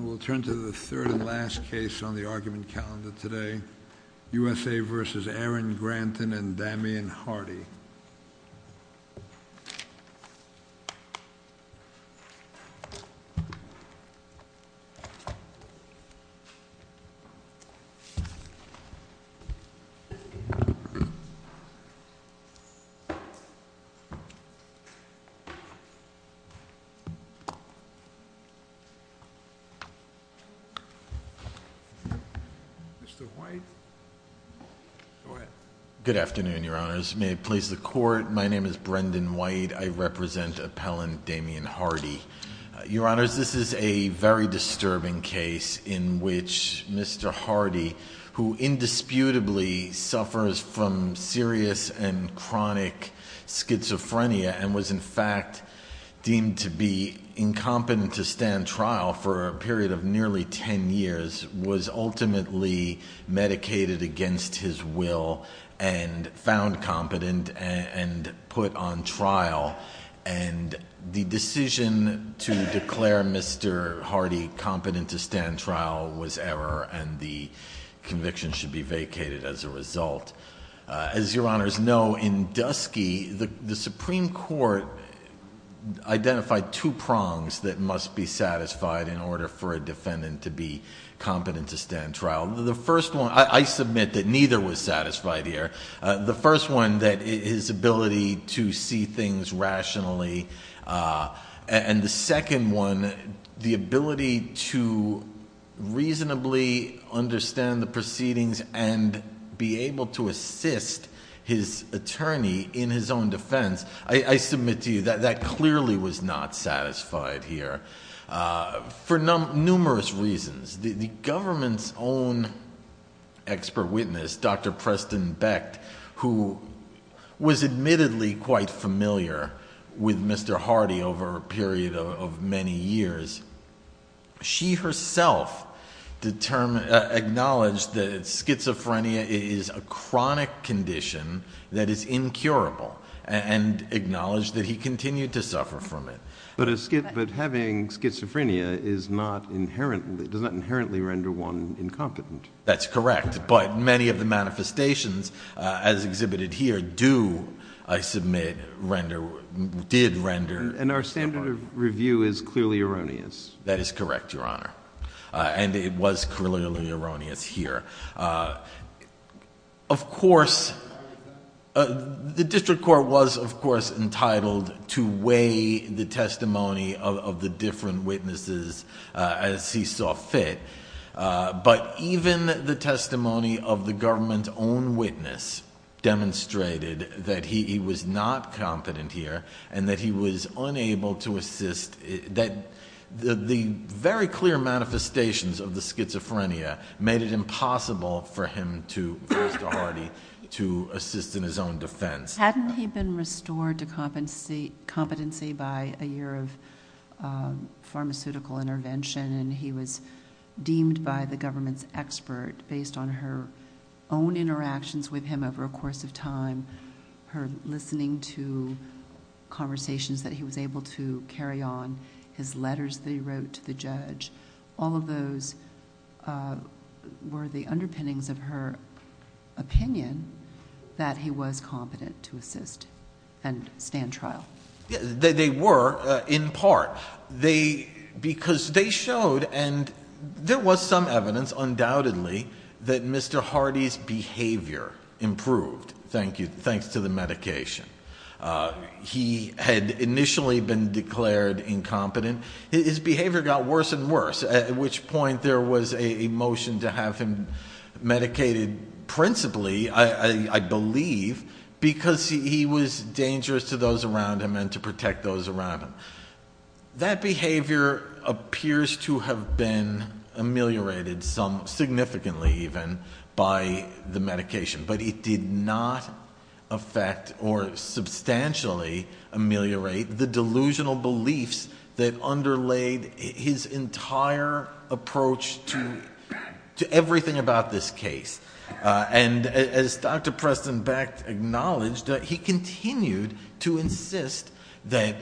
We'll turn to the third and last case on the argument calendar today, USA v. Aaron Granton and Damian Hardy. Mr. White? Go ahead. Good afternoon, Your Honors. May it please the Court, my name is Brendan White. I represent appellant Damian Hardy. Your Honors, this is a very disturbing case in which Mr. Hardy, who indisputably suffers from serious and chronic schizophrenia and was in fact deemed to be incompetent to stand trial for a period of nearly ten years, was ultimately medicated against his will and found competent and put on trial. And the decision to declare Mr. Hardy competent to stand trial was error and the conviction should be vacated as a result. As Your Honors know, in Dusky, the Supreme Court identified two prongs that must be satisfied in order for a defendant to be competent to stand trial. The first one, I submit that neither was satisfied here. The first one, his ability to see things rationally. And the second one, the ability to reasonably understand the proceedings and be able to assist his attorney in his own defense. I submit to you that that clearly was not satisfied here for numerous reasons. The government's own expert witness, Dr. Preston Becht, who was admittedly quite familiar with Mr. Hardy over a period of many years, she herself acknowledged that schizophrenia is a chronic condition that is incurable and acknowledged that he continued to suffer from it. But having schizophrenia does not inherently render one incompetent. That's correct. But many of the manifestations as exhibited here do, I submit, did render... And our standard of review is clearly erroneous. That is correct, Your Honor. And it was clearly erroneous here. Of course, the district court was, of course, entitled to weigh the testimony of the different witnesses as he saw fit. But even the testimony of the government's own witness demonstrated that he was not competent here and that he was unable to assist... The very clear manifestations of the schizophrenia made it impossible for Mr. Hardy to assist in his own defense. Hadn't he been restored to competency by a year of pharmaceutical intervention and he was deemed by the government's expert, based on her own interactions with him over a course of time, her listening to conversations that he was able to carry on, his letters that he wrote to the judge, all of those were the underpinnings of her opinion that he was competent to assist and stand trial. They were, in part, because they showed, and there was some evidence, undoubtedly, that Mr. Hardy's behavior improved, thanks to the medication. He had initially been declared incompetent. His behavior got worse and worse, at which point there was a motion to have him medicated principally, I believe, because he was dangerous to those around him and to protect those around him. That behavior appears to have been ameliorated some, significantly even, by the medication, but it did not affect or substantially ameliorate the delusional beliefs that underlayed his entire approach to everything about this case. As Dr. Preston-Beck acknowledged, he continued to insist that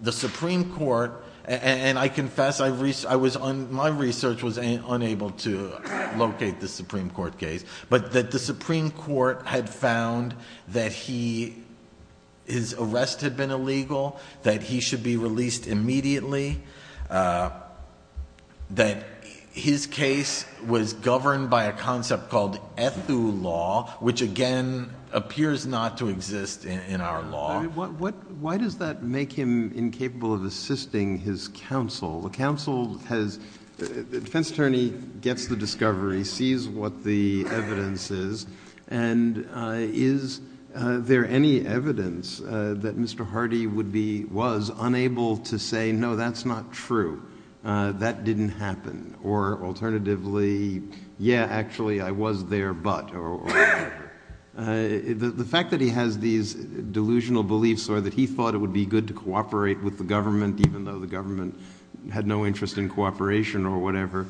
the Supreme Court, and I confess my research was unable to locate the Supreme Court case, but that the Supreme Court had found that his arrest had been illegal, that he should be released immediately, that his case was governed by a concept called ethu law, which again appears not to exist in our law. Why does that make him incapable of assisting his counsel? The defense attorney gets the discovery, sees what the evidence is, and is there any evidence that Mr. Hardy was unable to say, or that he thought it would be good to cooperate with the government, even though the government had no interest in cooperation or whatever?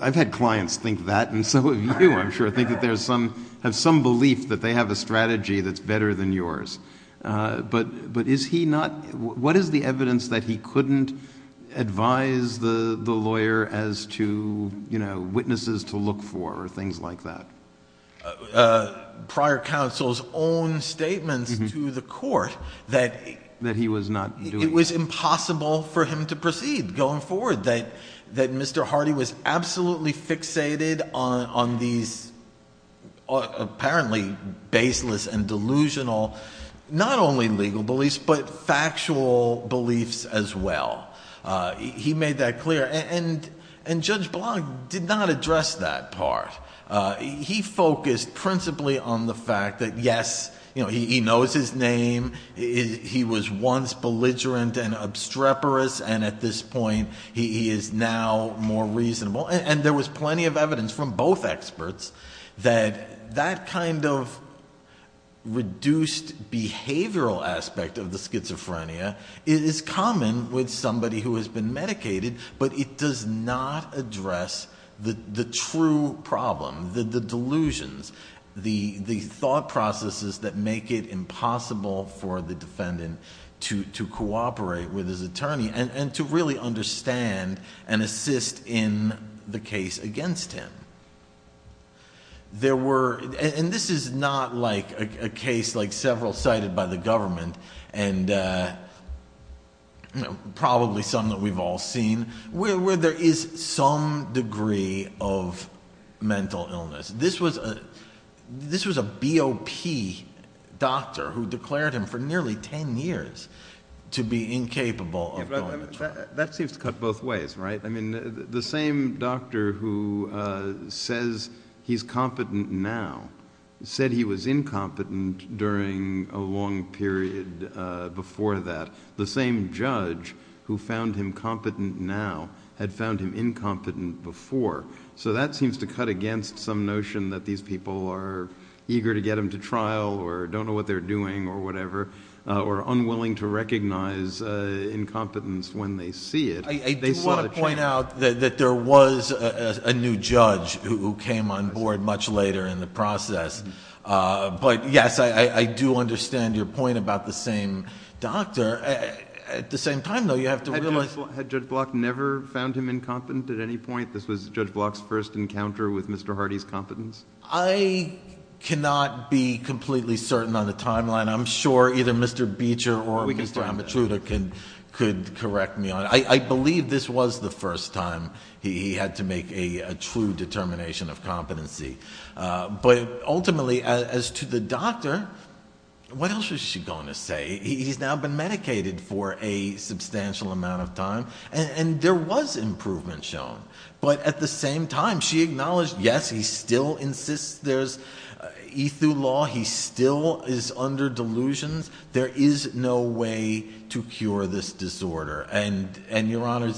I've had clients think that, and so have you, I'm sure, think that there's some, have some belief that they have a strategy that's better than yours. But is he not, what is the evidence that he couldn't advise the lawyer as to, you know, witnesses to look for, or things like that? Prior counsel's own statements to the court that it was impossible for him to proceed going forward, that Mr. Hardy was absolutely fixated on these apparently baseless and delusional, not only legal beliefs, but factual beliefs as well. He made that clear, and Judge Blanc did not address that part. He focused principally on the fact that yes, he knows his name, he was once belligerent and obstreperous, and at this point he is now more reasonable, and there was plenty of evidence from both experts that that kind of reduced behavioral aspect of the schizophrenia is common with somebody who has been medicated, but it does not address the true problem, the delusions, the thought processes that make it impossible for the defendant to cooperate with his attorney, and to really understand and assist in the case against him. There were, and this is not like a case like several cited by the government, and probably some that we've all seen, where there is some degree of mental illness. This was a BOP doctor who declared him for nearly 10 years to be incapable of going to trial. That seems to cut both ways, right? The same doctor who says he's competent now said he was incompetent during a long period before that. The same judge who found him competent now had found him incompetent before, so that seems to cut against some notion that these people are eager to get him to trial, or don't know what they're doing, or whatever, or unwilling to recognize incompetence when they see it. I do want to point out that there was a new judge who came on board much later in the process, but yes, I do understand your point about the same doctor. At the same time, though, you have to realize... This was Judge Block's first encounter with Mr. Hardy's competence? I cannot be completely certain on the timeline. I'm sure either Mr. Beecher or Mr. Amatruda could correct me on it. I believe this was the first time he had to make a true determination of competency. But ultimately, as to the doctor, what else was she going to say? He's now been medicated for a substantial amount of time, and there was improvement shown. But at the same time, she acknowledged, yes, he still insists there's ethu law. He still is under delusions. There is no way to cure this disorder. And, Your Honor,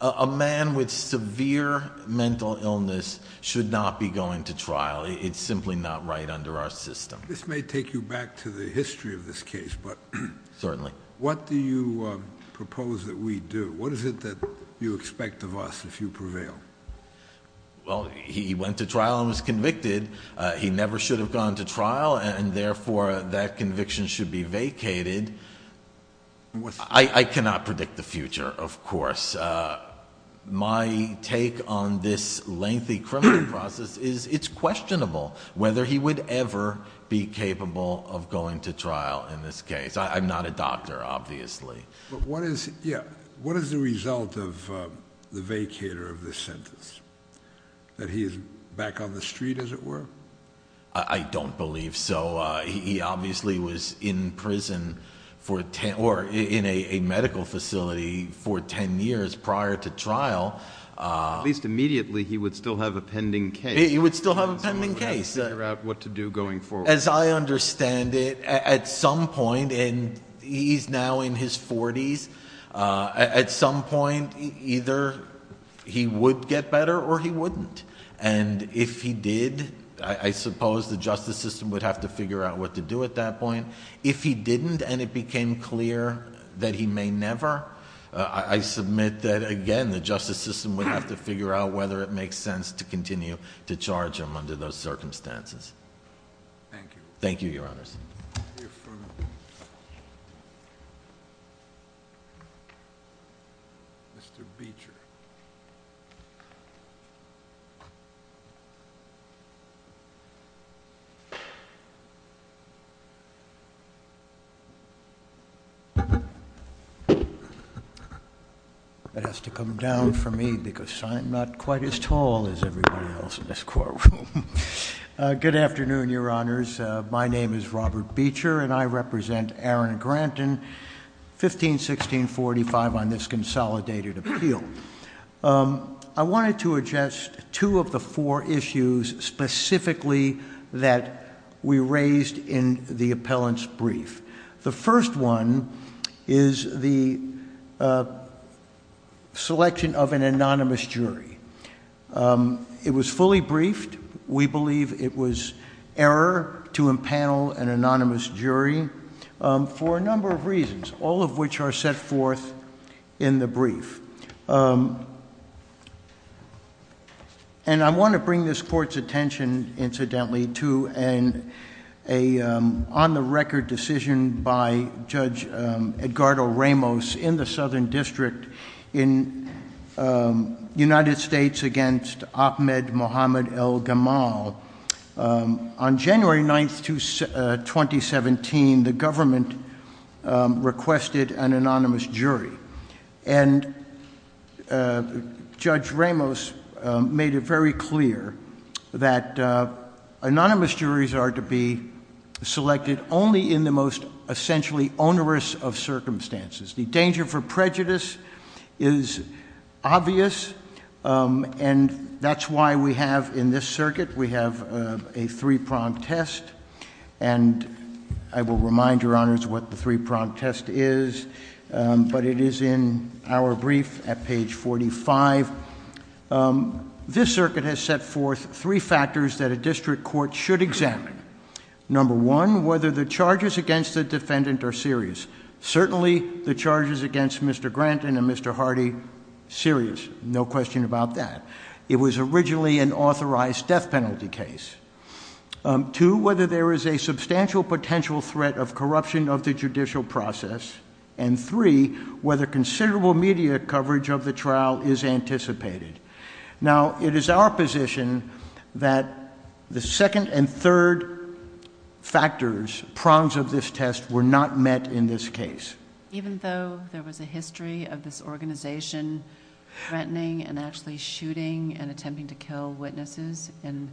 a man with severe mental illness should not be going to trial. It's simply not right under our system. This may take you back to the history of this case, but... Certainly. What do you propose that we do? What is it that you expect of us if you prevail? Well, he went to trial and was convicted. He never should have gone to trial, and therefore that conviction should be vacated. I cannot predict the future, of course. My take on this lengthy criminal process is it's questionable whether he would ever be capable of going to trial in this case. I'm not a doctor, obviously. But what is the result of the vacator of this sentence? That he is back on the street, as it were? I don't believe so. He obviously was in prison or in a medical facility for 10 years prior to trial. At least immediately he would still have a pending case. He would still have a pending case. He would have to figure out what to do going forward. As I understand it, at some point, and he's now in his 40s, at some point either he would get better or he wouldn't. And if he did, I suppose the justice system would have to figure out what to do at that point. If he didn't and it became clear that he may never, I submit that, again, the justice system would have to figure out whether it makes sense to continue to charge him under those circumstances. Thank you. Thank you, Your Honors. Mr. Beecher. That has to come down for me because I'm not quite as tall as everybody else in this courtroom. Good afternoon, Your Honors. My name is Robert Beecher, and I represent Aaron Grant in 151645 on this consolidated appeal. I wanted to address two of the four issues specifically that we raised in the appellant's brief. The first one is the selection of an anonymous jury. It was fully briefed. We believe it was error to impanel an anonymous jury for a number of reasons, all of which are set forth in the brief. And I want to bring this Court's attention, incidentally, to an on-the-record decision by Judge Edgardo Ramos in the Southern District in the United States against Ahmed Mohamed El Gamal. On January 9, 2017, the government requested an anonymous jury, and Judge Ramos made it very clear that anonymous juries are to be selected only in the most essentially onerous of circumstances. The danger for prejudice is obvious, and that's why we have in this circuit, we have a three-pronged test. And I will remind Your Honors what the three-pronged test is, but it is in our brief at page 45. This circuit has set forth three factors that a district court should examine. Number one, whether the charges against the defendant are serious. Certainly, the charges against Mr. Grant and Mr. Hardy, serious, no question about that. It was originally an authorized death penalty case. Two, whether there is a substantial potential threat of corruption of the judicial process. And three, whether considerable media coverage of the trial is anticipated. Now, it is our position that the second and third factors, prongs of this test, were not met in this case. Even though there was a history of this organization threatening and actually shooting and attempting to kill witnesses in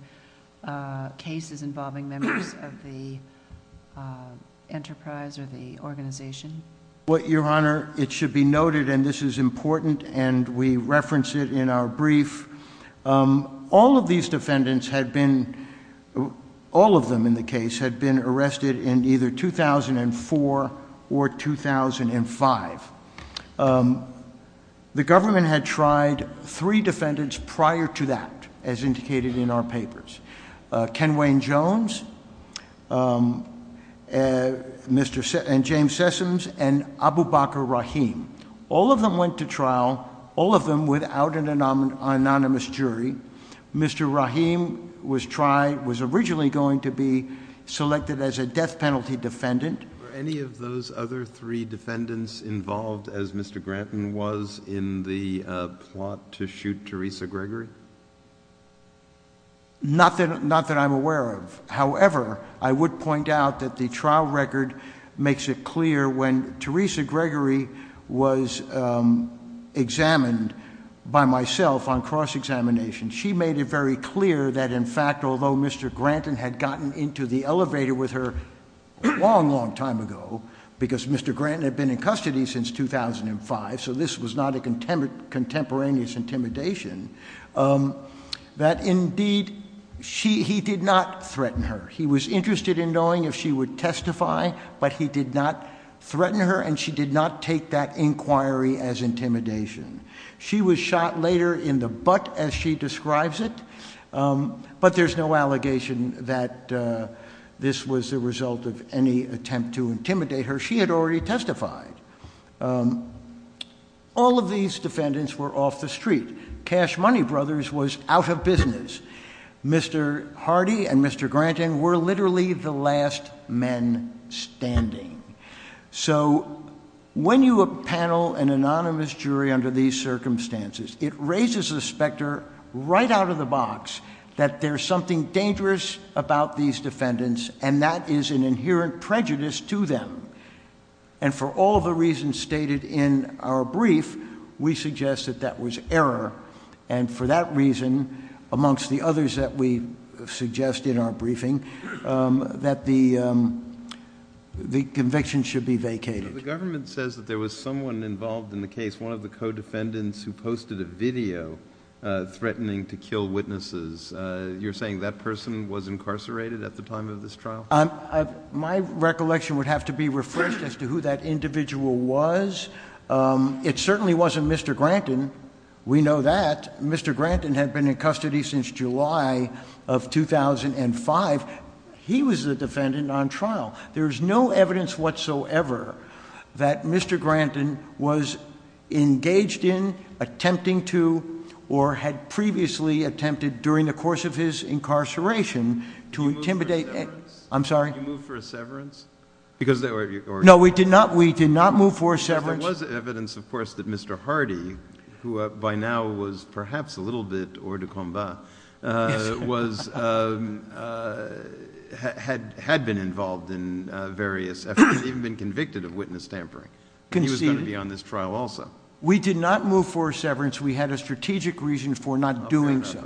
cases involving members of the enterprise or the organization? Well, Your Honor, it should be noted, and this is important, and we reference it in our brief. All of these defendants had been, all of them in the case, had been arrested in either 2004 or 2005. The government had tried three defendants prior to that, as indicated in our papers. Ken Wayne Jones and James Sessoms and Abu Bakr Rahim. All of them went to trial, all of them without an anonymous jury. Mr. Rahim was originally going to be selected as a death penalty defendant. Were any of those other three defendants involved as Mr. Grant was in the plot to shoot Teresa Gregory? Not that I'm aware of. However, I would point out that the trial record makes it clear when Teresa Gregory was examined by myself on cross-examination, she made it very clear that, in fact, although Mr. Grant had gotten into the elevator with her a long, long time ago, because Mr. Grant had been in custody since 2005, so this was not a contemporaneous intimidation, that, indeed, he did not threaten her. He was interested in knowing if she would testify, but he did not threaten her, and she did not take that inquiry as intimidation. She was shot later in the butt, as she describes it, but there's no allegation that this was the result of any attempt to intimidate her. She had already testified. All of these defendants were off the street. Cash Money Brothers was out of business. Mr. Hardy and Mr. Grant were literally the last men standing. So when you panel an anonymous jury under these circumstances, it raises the specter right out of the box that there's something dangerous about these defendants, and that is an inherent prejudice to them. And for all the reasons stated in our brief, we suggest that that was error, and for that reason, amongst the others that we suggest in our briefing, that the conviction should be vacated. The government says that there was someone involved in the case, one of the co-defendants, who posted a video threatening to kill witnesses. You're saying that person was incarcerated at the time of this trial? My recollection would have to be refreshed as to who that individual was. It certainly wasn't Mr. Granton. We know that. Mr. Granton had been in custody since July of 2005. He was the defendant on trial. There is no evidence whatsoever that Mr. Granton was engaged in, attempting to, or had previously attempted during the course of his incarceration to intimidate. You moved for a severance? I'm sorry? You moved for a severance? No, we did not move for a severance. There was evidence, of course, that Mr. Hardy, who by now was perhaps a little bit hors de combat, had been involved in various efforts, even been convicted of witness tampering. He was going to be on this trial also. We did not move for a severance. We had a strategic reason for not doing so.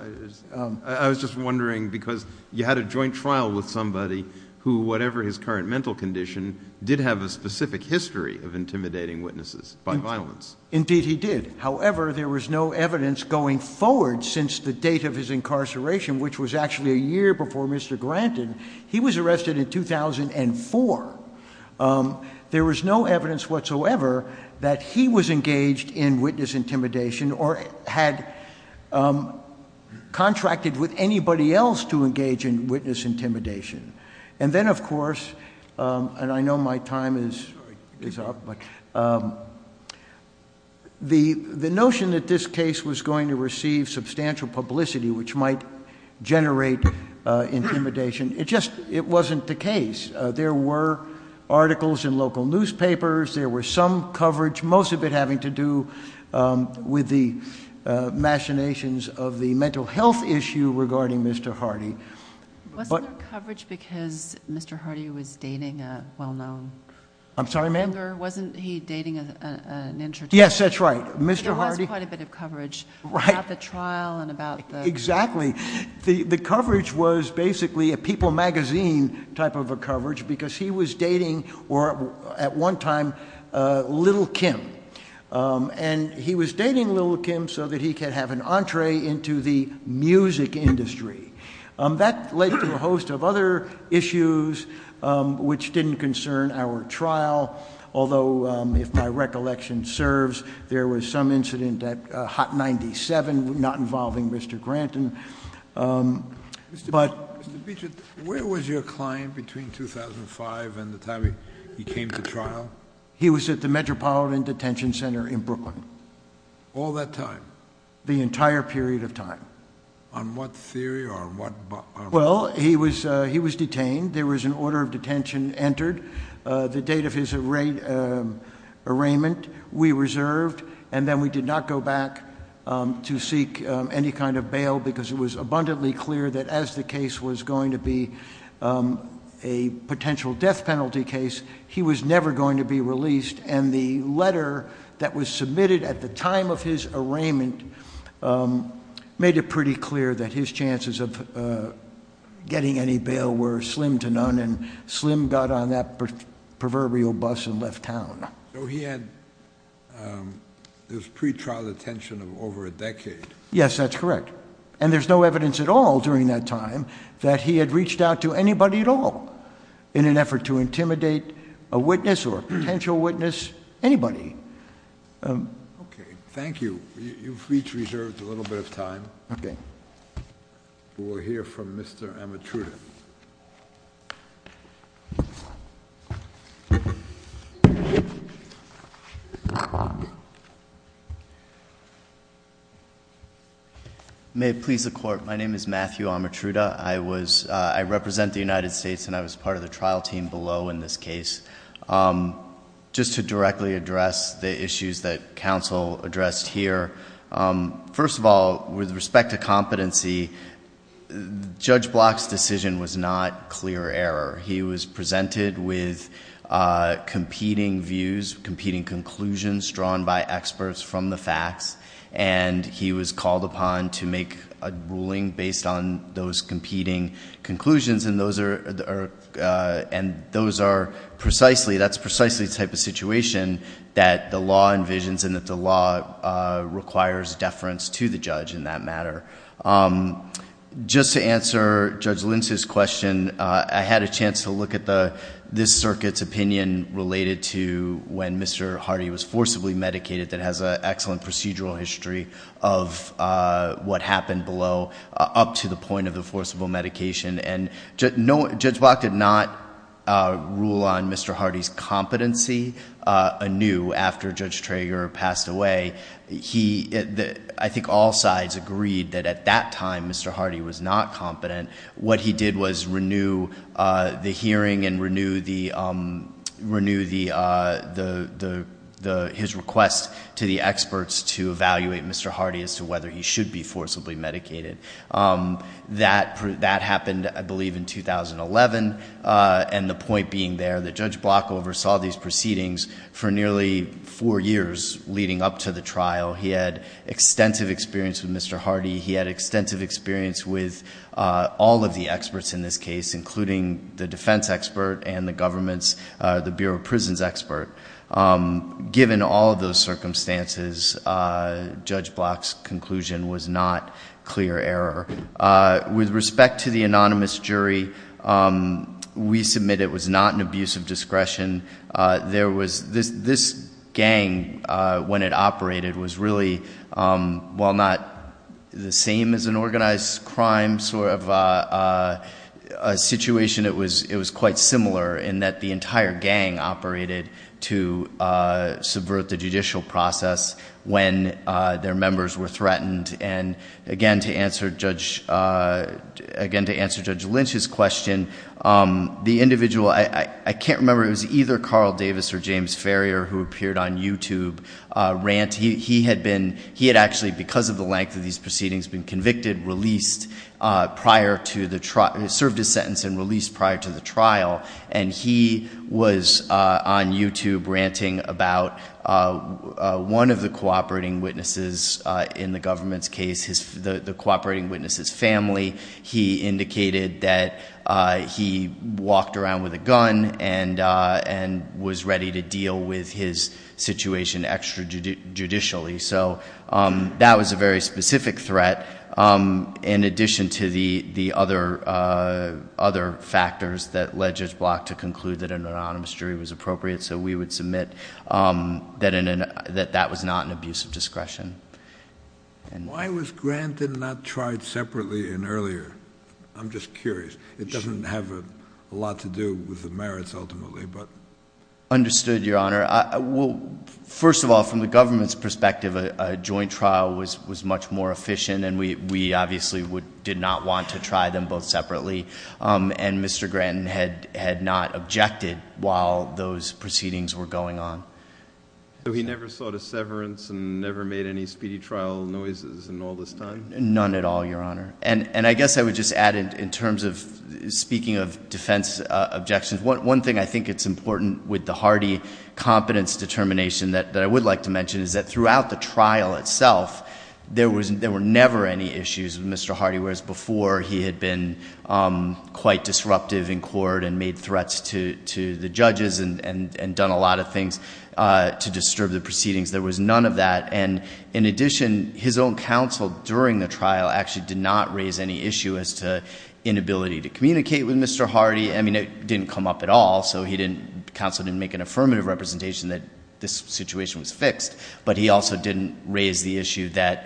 I was just wondering, because you had a joint trial with somebody who, whatever his current mental condition, did have a specific history of intimidating witnesses by violence. Indeed he did. However, there was no evidence going forward since the date of his incarceration, which was actually a year before Mr. Granton. He was arrested in 2004. There was no evidence whatsoever that he was engaged in witness intimidation or had contracted with anybody else to engage in witness intimidation. And then, of course, and I know my time is up, but the notion that this case was going to receive substantial publicity, which might generate intimidation, it just wasn't the case. There were articles in local newspapers. There was some coverage, most of it having to do with the machinations of the mental health issue regarding Mr. Hardy. Wasn't there coverage because Mr. Hardy was dating a well-known? I'm sorry, ma'am? Wasn't he dating an introvert? Yes, that's right. There was quite a bit of coverage about the trial and about the- Exactly. The coverage was basically a People magazine type of a coverage because he was dating, at one time, Little Kim. And he was dating Little Kim so that he could have an entree into the music industry. That led to a host of other issues which didn't concern our trial, although, if my recollection serves, there was some incident at Hot 97 not involving Mr. Granton. Mr. Beecher, where was your client between 2005 and the time he came to trial? He was at the Metropolitan Detention Center in Brooklyn. All that time? The entire period of time. On what theory or on what- Well, he was detained. There was an order of detention entered. The date of his arraignment, we reserved, and then we did not go back to seek any kind of bail because it was abundantly clear that as the case was going to be a potential death penalty case, he was never going to be released. And the letter that was submitted at the time of his arraignment made it pretty clear that his chances of getting any bail were slim to none, and Slim got on that proverbial bus and left town. So he had this pretrial detention of over a decade. Yes, that's correct. And there's no evidence at all during that time that he had reached out to anybody at all in an effort to intimidate a witness or a potential witness, anybody. Okay. Thank you. You've each reserved a little bit of time. Okay. We'll hear from Mr. Amatruda. May it please the Court, my name is Matthew Amatruda. I represent the United States, and I was part of the trial team below in this case. Just to directly address the issues that counsel addressed here, first of all, with respect to competency, Judge Block's decision was not clear error. He was presented with competing views, competing conclusions drawn by experts from the facts, and he was called upon to make a ruling based on those competing conclusions, and that's precisely the type of situation that the law envisions and that the law requires deference to the judge in that matter. Just to answer Judge Lentz's question, I had a chance to look at this circuit's opinion related to when Mr. Hardy was forcibly medicated that has an excellent procedural history of what happened below up to the point of the forcible medication, and Judge Block did not rule on Mr. Hardy's competency anew after Judge Trager passed away. I think all sides agreed that at that time Mr. Hardy was not competent. What he did was renew the hearing and renew his request to the experts to evaluate Mr. Hardy as to whether he should be forcibly medicated. That happened, I believe, in 2011, and the point being there that Judge Block oversaw these proceedings for nearly four years leading up to the trial. He had extensive experience with Mr. Hardy. He had extensive experience with all of the experts in this case, including the defense expert and the government's Bureau of Prisons expert. Given all of those circumstances, Judge Block's conclusion was not clear error. With respect to the anonymous jury, we submit it was not an abuse of discretion. This gang, when it operated, was really, while not the same as an organized crime sort of situation, it was quite similar in that the entire gang operated to subvert the judicial process when their members were threatened. Again, to answer Judge Lynch's question, the individual, I can't remember, it was either Carl Davis or James Farrier who appeared on YouTube. He had actually, because of the length of these proceedings, been convicted, served his sentence, and released prior to the trial. He was on YouTube ranting about one of the cooperating witnesses in the government's case, the cooperating witness's family. He indicated that he walked around with a gun and was ready to deal with his situation extrajudicially. So that was a very specific threat, in addition to the other factors that led Judge Block to conclude that an anonymous jury was appropriate. So we would submit that that was not an abuse of discretion. Why was Granton not tried separately in earlier? I'm just curious. It doesn't have a lot to do with the merits, ultimately. Understood, Your Honor. First of all, from the government's perspective, a joint trial was much more efficient, and we obviously did not want to try them both separately. And Mr. Granton had not objected while those proceedings were going on. So he never sought a severance and never made any speedy trial noises in all this time? None at all, Your Honor. And I guess I would just add, in terms of speaking of defense objections, one thing I think is important with the Hardy competence determination that I would like to mention is that throughout the trial itself, there were never any issues with Mr. Hardy, whereas before he had been quite disruptive in court and made threats to the judges and done a lot of things to disturb the proceedings. There was none of that. And in addition, his own counsel during the trial actually did not raise any issue as to inability to communicate with Mr. Hardy. I mean, it didn't come up at all, so counsel didn't make an affirmative representation that this situation was fixed, but he also didn't raise the issue that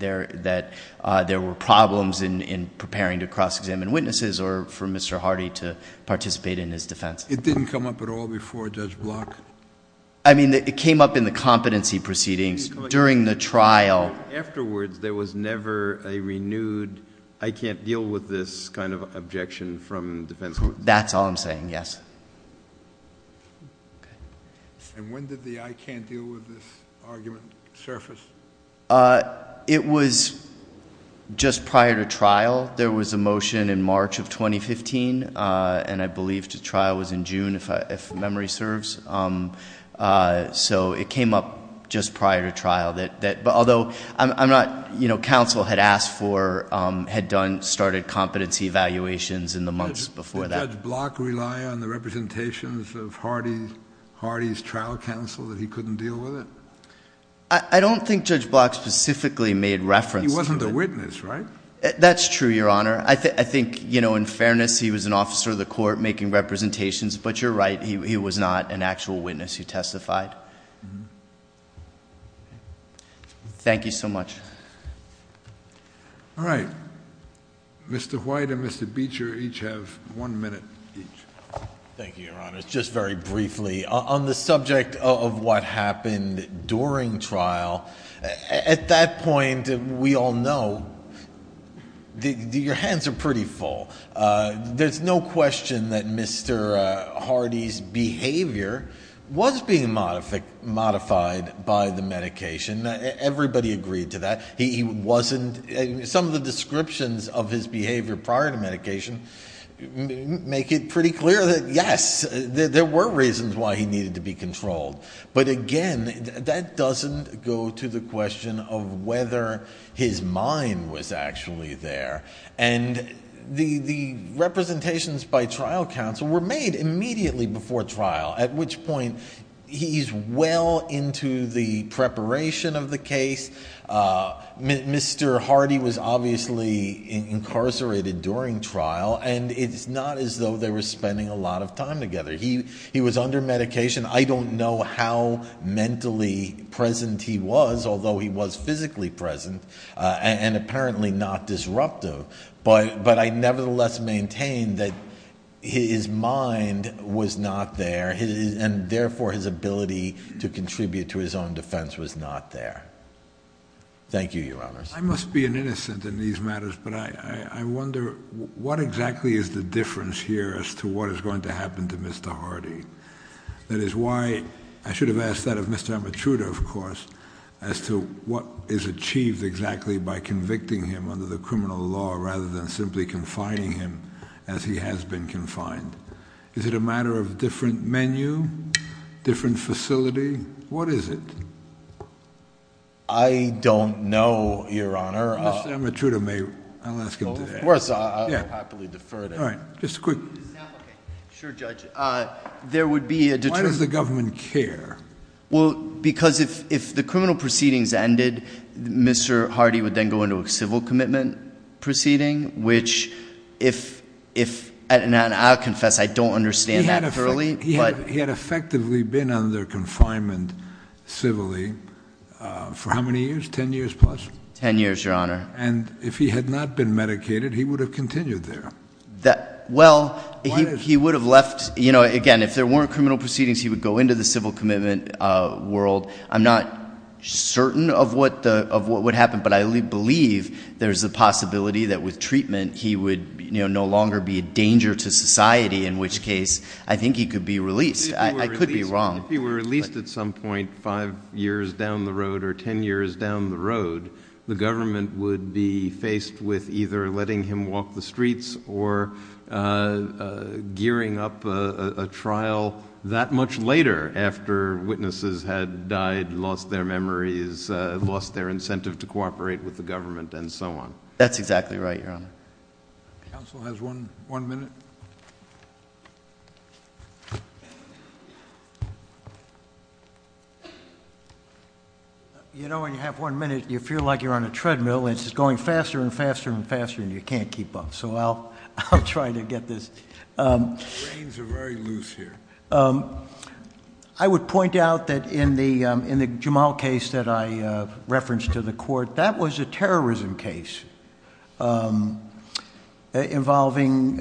there were problems in preparing to cross-examine witnesses or for Mr. Hardy to participate in his defense. It didn't come up at all before Judge Block? I mean, it came up in the competency proceedings during the trial. Afterwards, there was never a renewed I can't deal with this kind of objection from defense witnesses? That's all I'm saying, yes. And when did the I can't deal with this argument surface? It was just prior to trial. There was a motion in March of 2015, and I believe the trial was in June, if memory serves. So it came up just prior to trial. Although counsel had asked for, had done, started competency evaluations in the months before that. Did Judge Block rely on the representations of Hardy's trial counsel that he couldn't deal with it? I don't think Judge Block specifically made reference to it. He wasn't a witness, right? That's true, Your Honor. I think, in fairness, he was an officer of the court making representations. But you're right, he was not an actual witness who testified. Thank you so much. All right. Mr. White and Mr. Beecher each have one minute each. Thank you, Your Honor. Just very briefly, on the subject of what happened during trial, at that point, we all know, your hands are pretty full. There's no question that Mr. Hardy's behavior was being modified by the medication. Everybody agreed to that. Some of the descriptions of his behavior prior to medication make it pretty clear that, yes, there were reasons why he needed to be controlled. But, again, that doesn't go to the question of whether his mind was actually there. And the representations by trial counsel were made immediately before trial, at which point he's well into the preparation of the case. Mr. Hardy was obviously incarcerated during trial, and it's not as though they were spending a lot of time together. He was under medication. I don't know how mentally present he was, although he was physically present and apparently not disruptive. But I nevertheless maintain that his mind was not there, and therefore his ability to contribute to his own defense was not there. Thank you, Your Honors. I must be an innocent in these matters, but I wonder what exactly is the difference here as to what is going to happen to Mr. Hardy. That is why I should have asked that of Mr. Amatruda, of course, as to what is achieved exactly by convicting him under the criminal law rather than simply confining him as he has been confined. Is it a matter of different menu, different facility? What is it? I don't know, Your Honor. Mr. Amatruda, I'll ask him today. Of course, I'll happily defer to him. All right, just a quick question. Sure, Judge. Why does the government care? Well, because if the criminal proceedings ended, Mr. Hardy would then go into a civil commitment proceeding, which if, and I'll confess I don't understand that thoroughly. He had effectively been under confinement civilly for how many years, 10 years plus? Ten years, Your Honor. And if he had not been medicated, he would have continued there. Well, he would have left. Again, if there weren't criminal proceedings, he would go into the civil commitment world. I'm not certain of what would happen, but I believe there's a possibility that with treatment he would no longer be a danger to society, in which case I think he could be released. I could be wrong. If he were released at some point five years down the road or ten years down the road, the government would be faced with either letting him walk the streets or gearing up a trial that much later after witnesses had died, lost their memories, lost their incentive to cooperate with the government and so on. That's exactly right, Your Honor. Counsel has one minute. You know, when you have one minute, you feel like you're on a treadmill. It's going faster and faster and faster and you can't keep up, so I'll try to get this... Reins are very loose here. I would point out that in the Jamal case that I referenced to the court, that was a terrorism case involving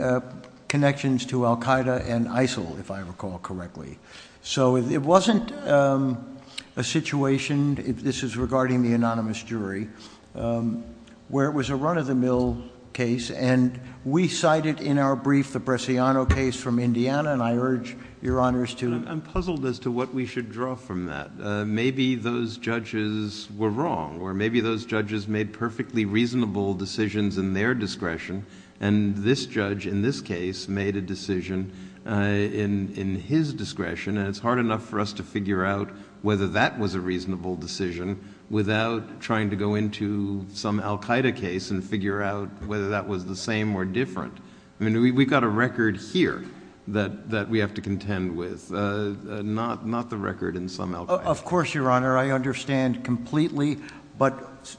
connections to Al Qaeda and ISIL, if I recall correctly. So it wasn't a situation, this is regarding the anonymous jury, where it was a run-of-the-mill case, and we cited in our brief the Bresciano case from Indiana, and I urge Your Honors to... I'm puzzled as to what we should draw from that. Maybe those judges were wrong, or maybe those judges made perfectly reasonable decisions in their discretion, and this judge in this case made a decision in his discretion, and it's hard enough for us to figure out whether that was a reasonable decision without trying to go into some Al Qaeda case and figure out whether that was the same or different. We've got a record here that we have to contend with, not the record in some Al Qaeda cases. Of course, Your Honor, I understand completely. But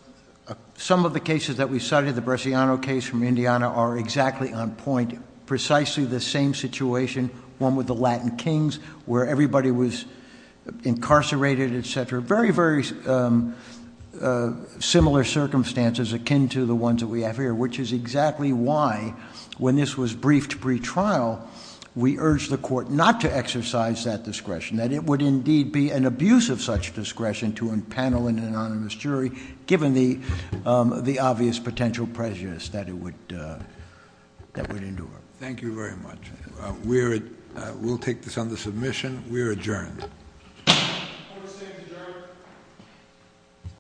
some of the cases that we cited, the Bresciano case from Indiana, are exactly on point, precisely the same situation, one with the Latin Kings, where everybody was incarcerated, et cetera. Very, very similar circumstances akin to the ones that we have here, which is exactly why, when this was briefed pretrial, we urged the court not to exercise that discretion, that it would indeed be an abuse of such discretion to unpanel an anonymous jury, given the obvious potential prejudice that it would endure. Thank you very much. We'll take this under submission. We are adjourned. Court is adjourned.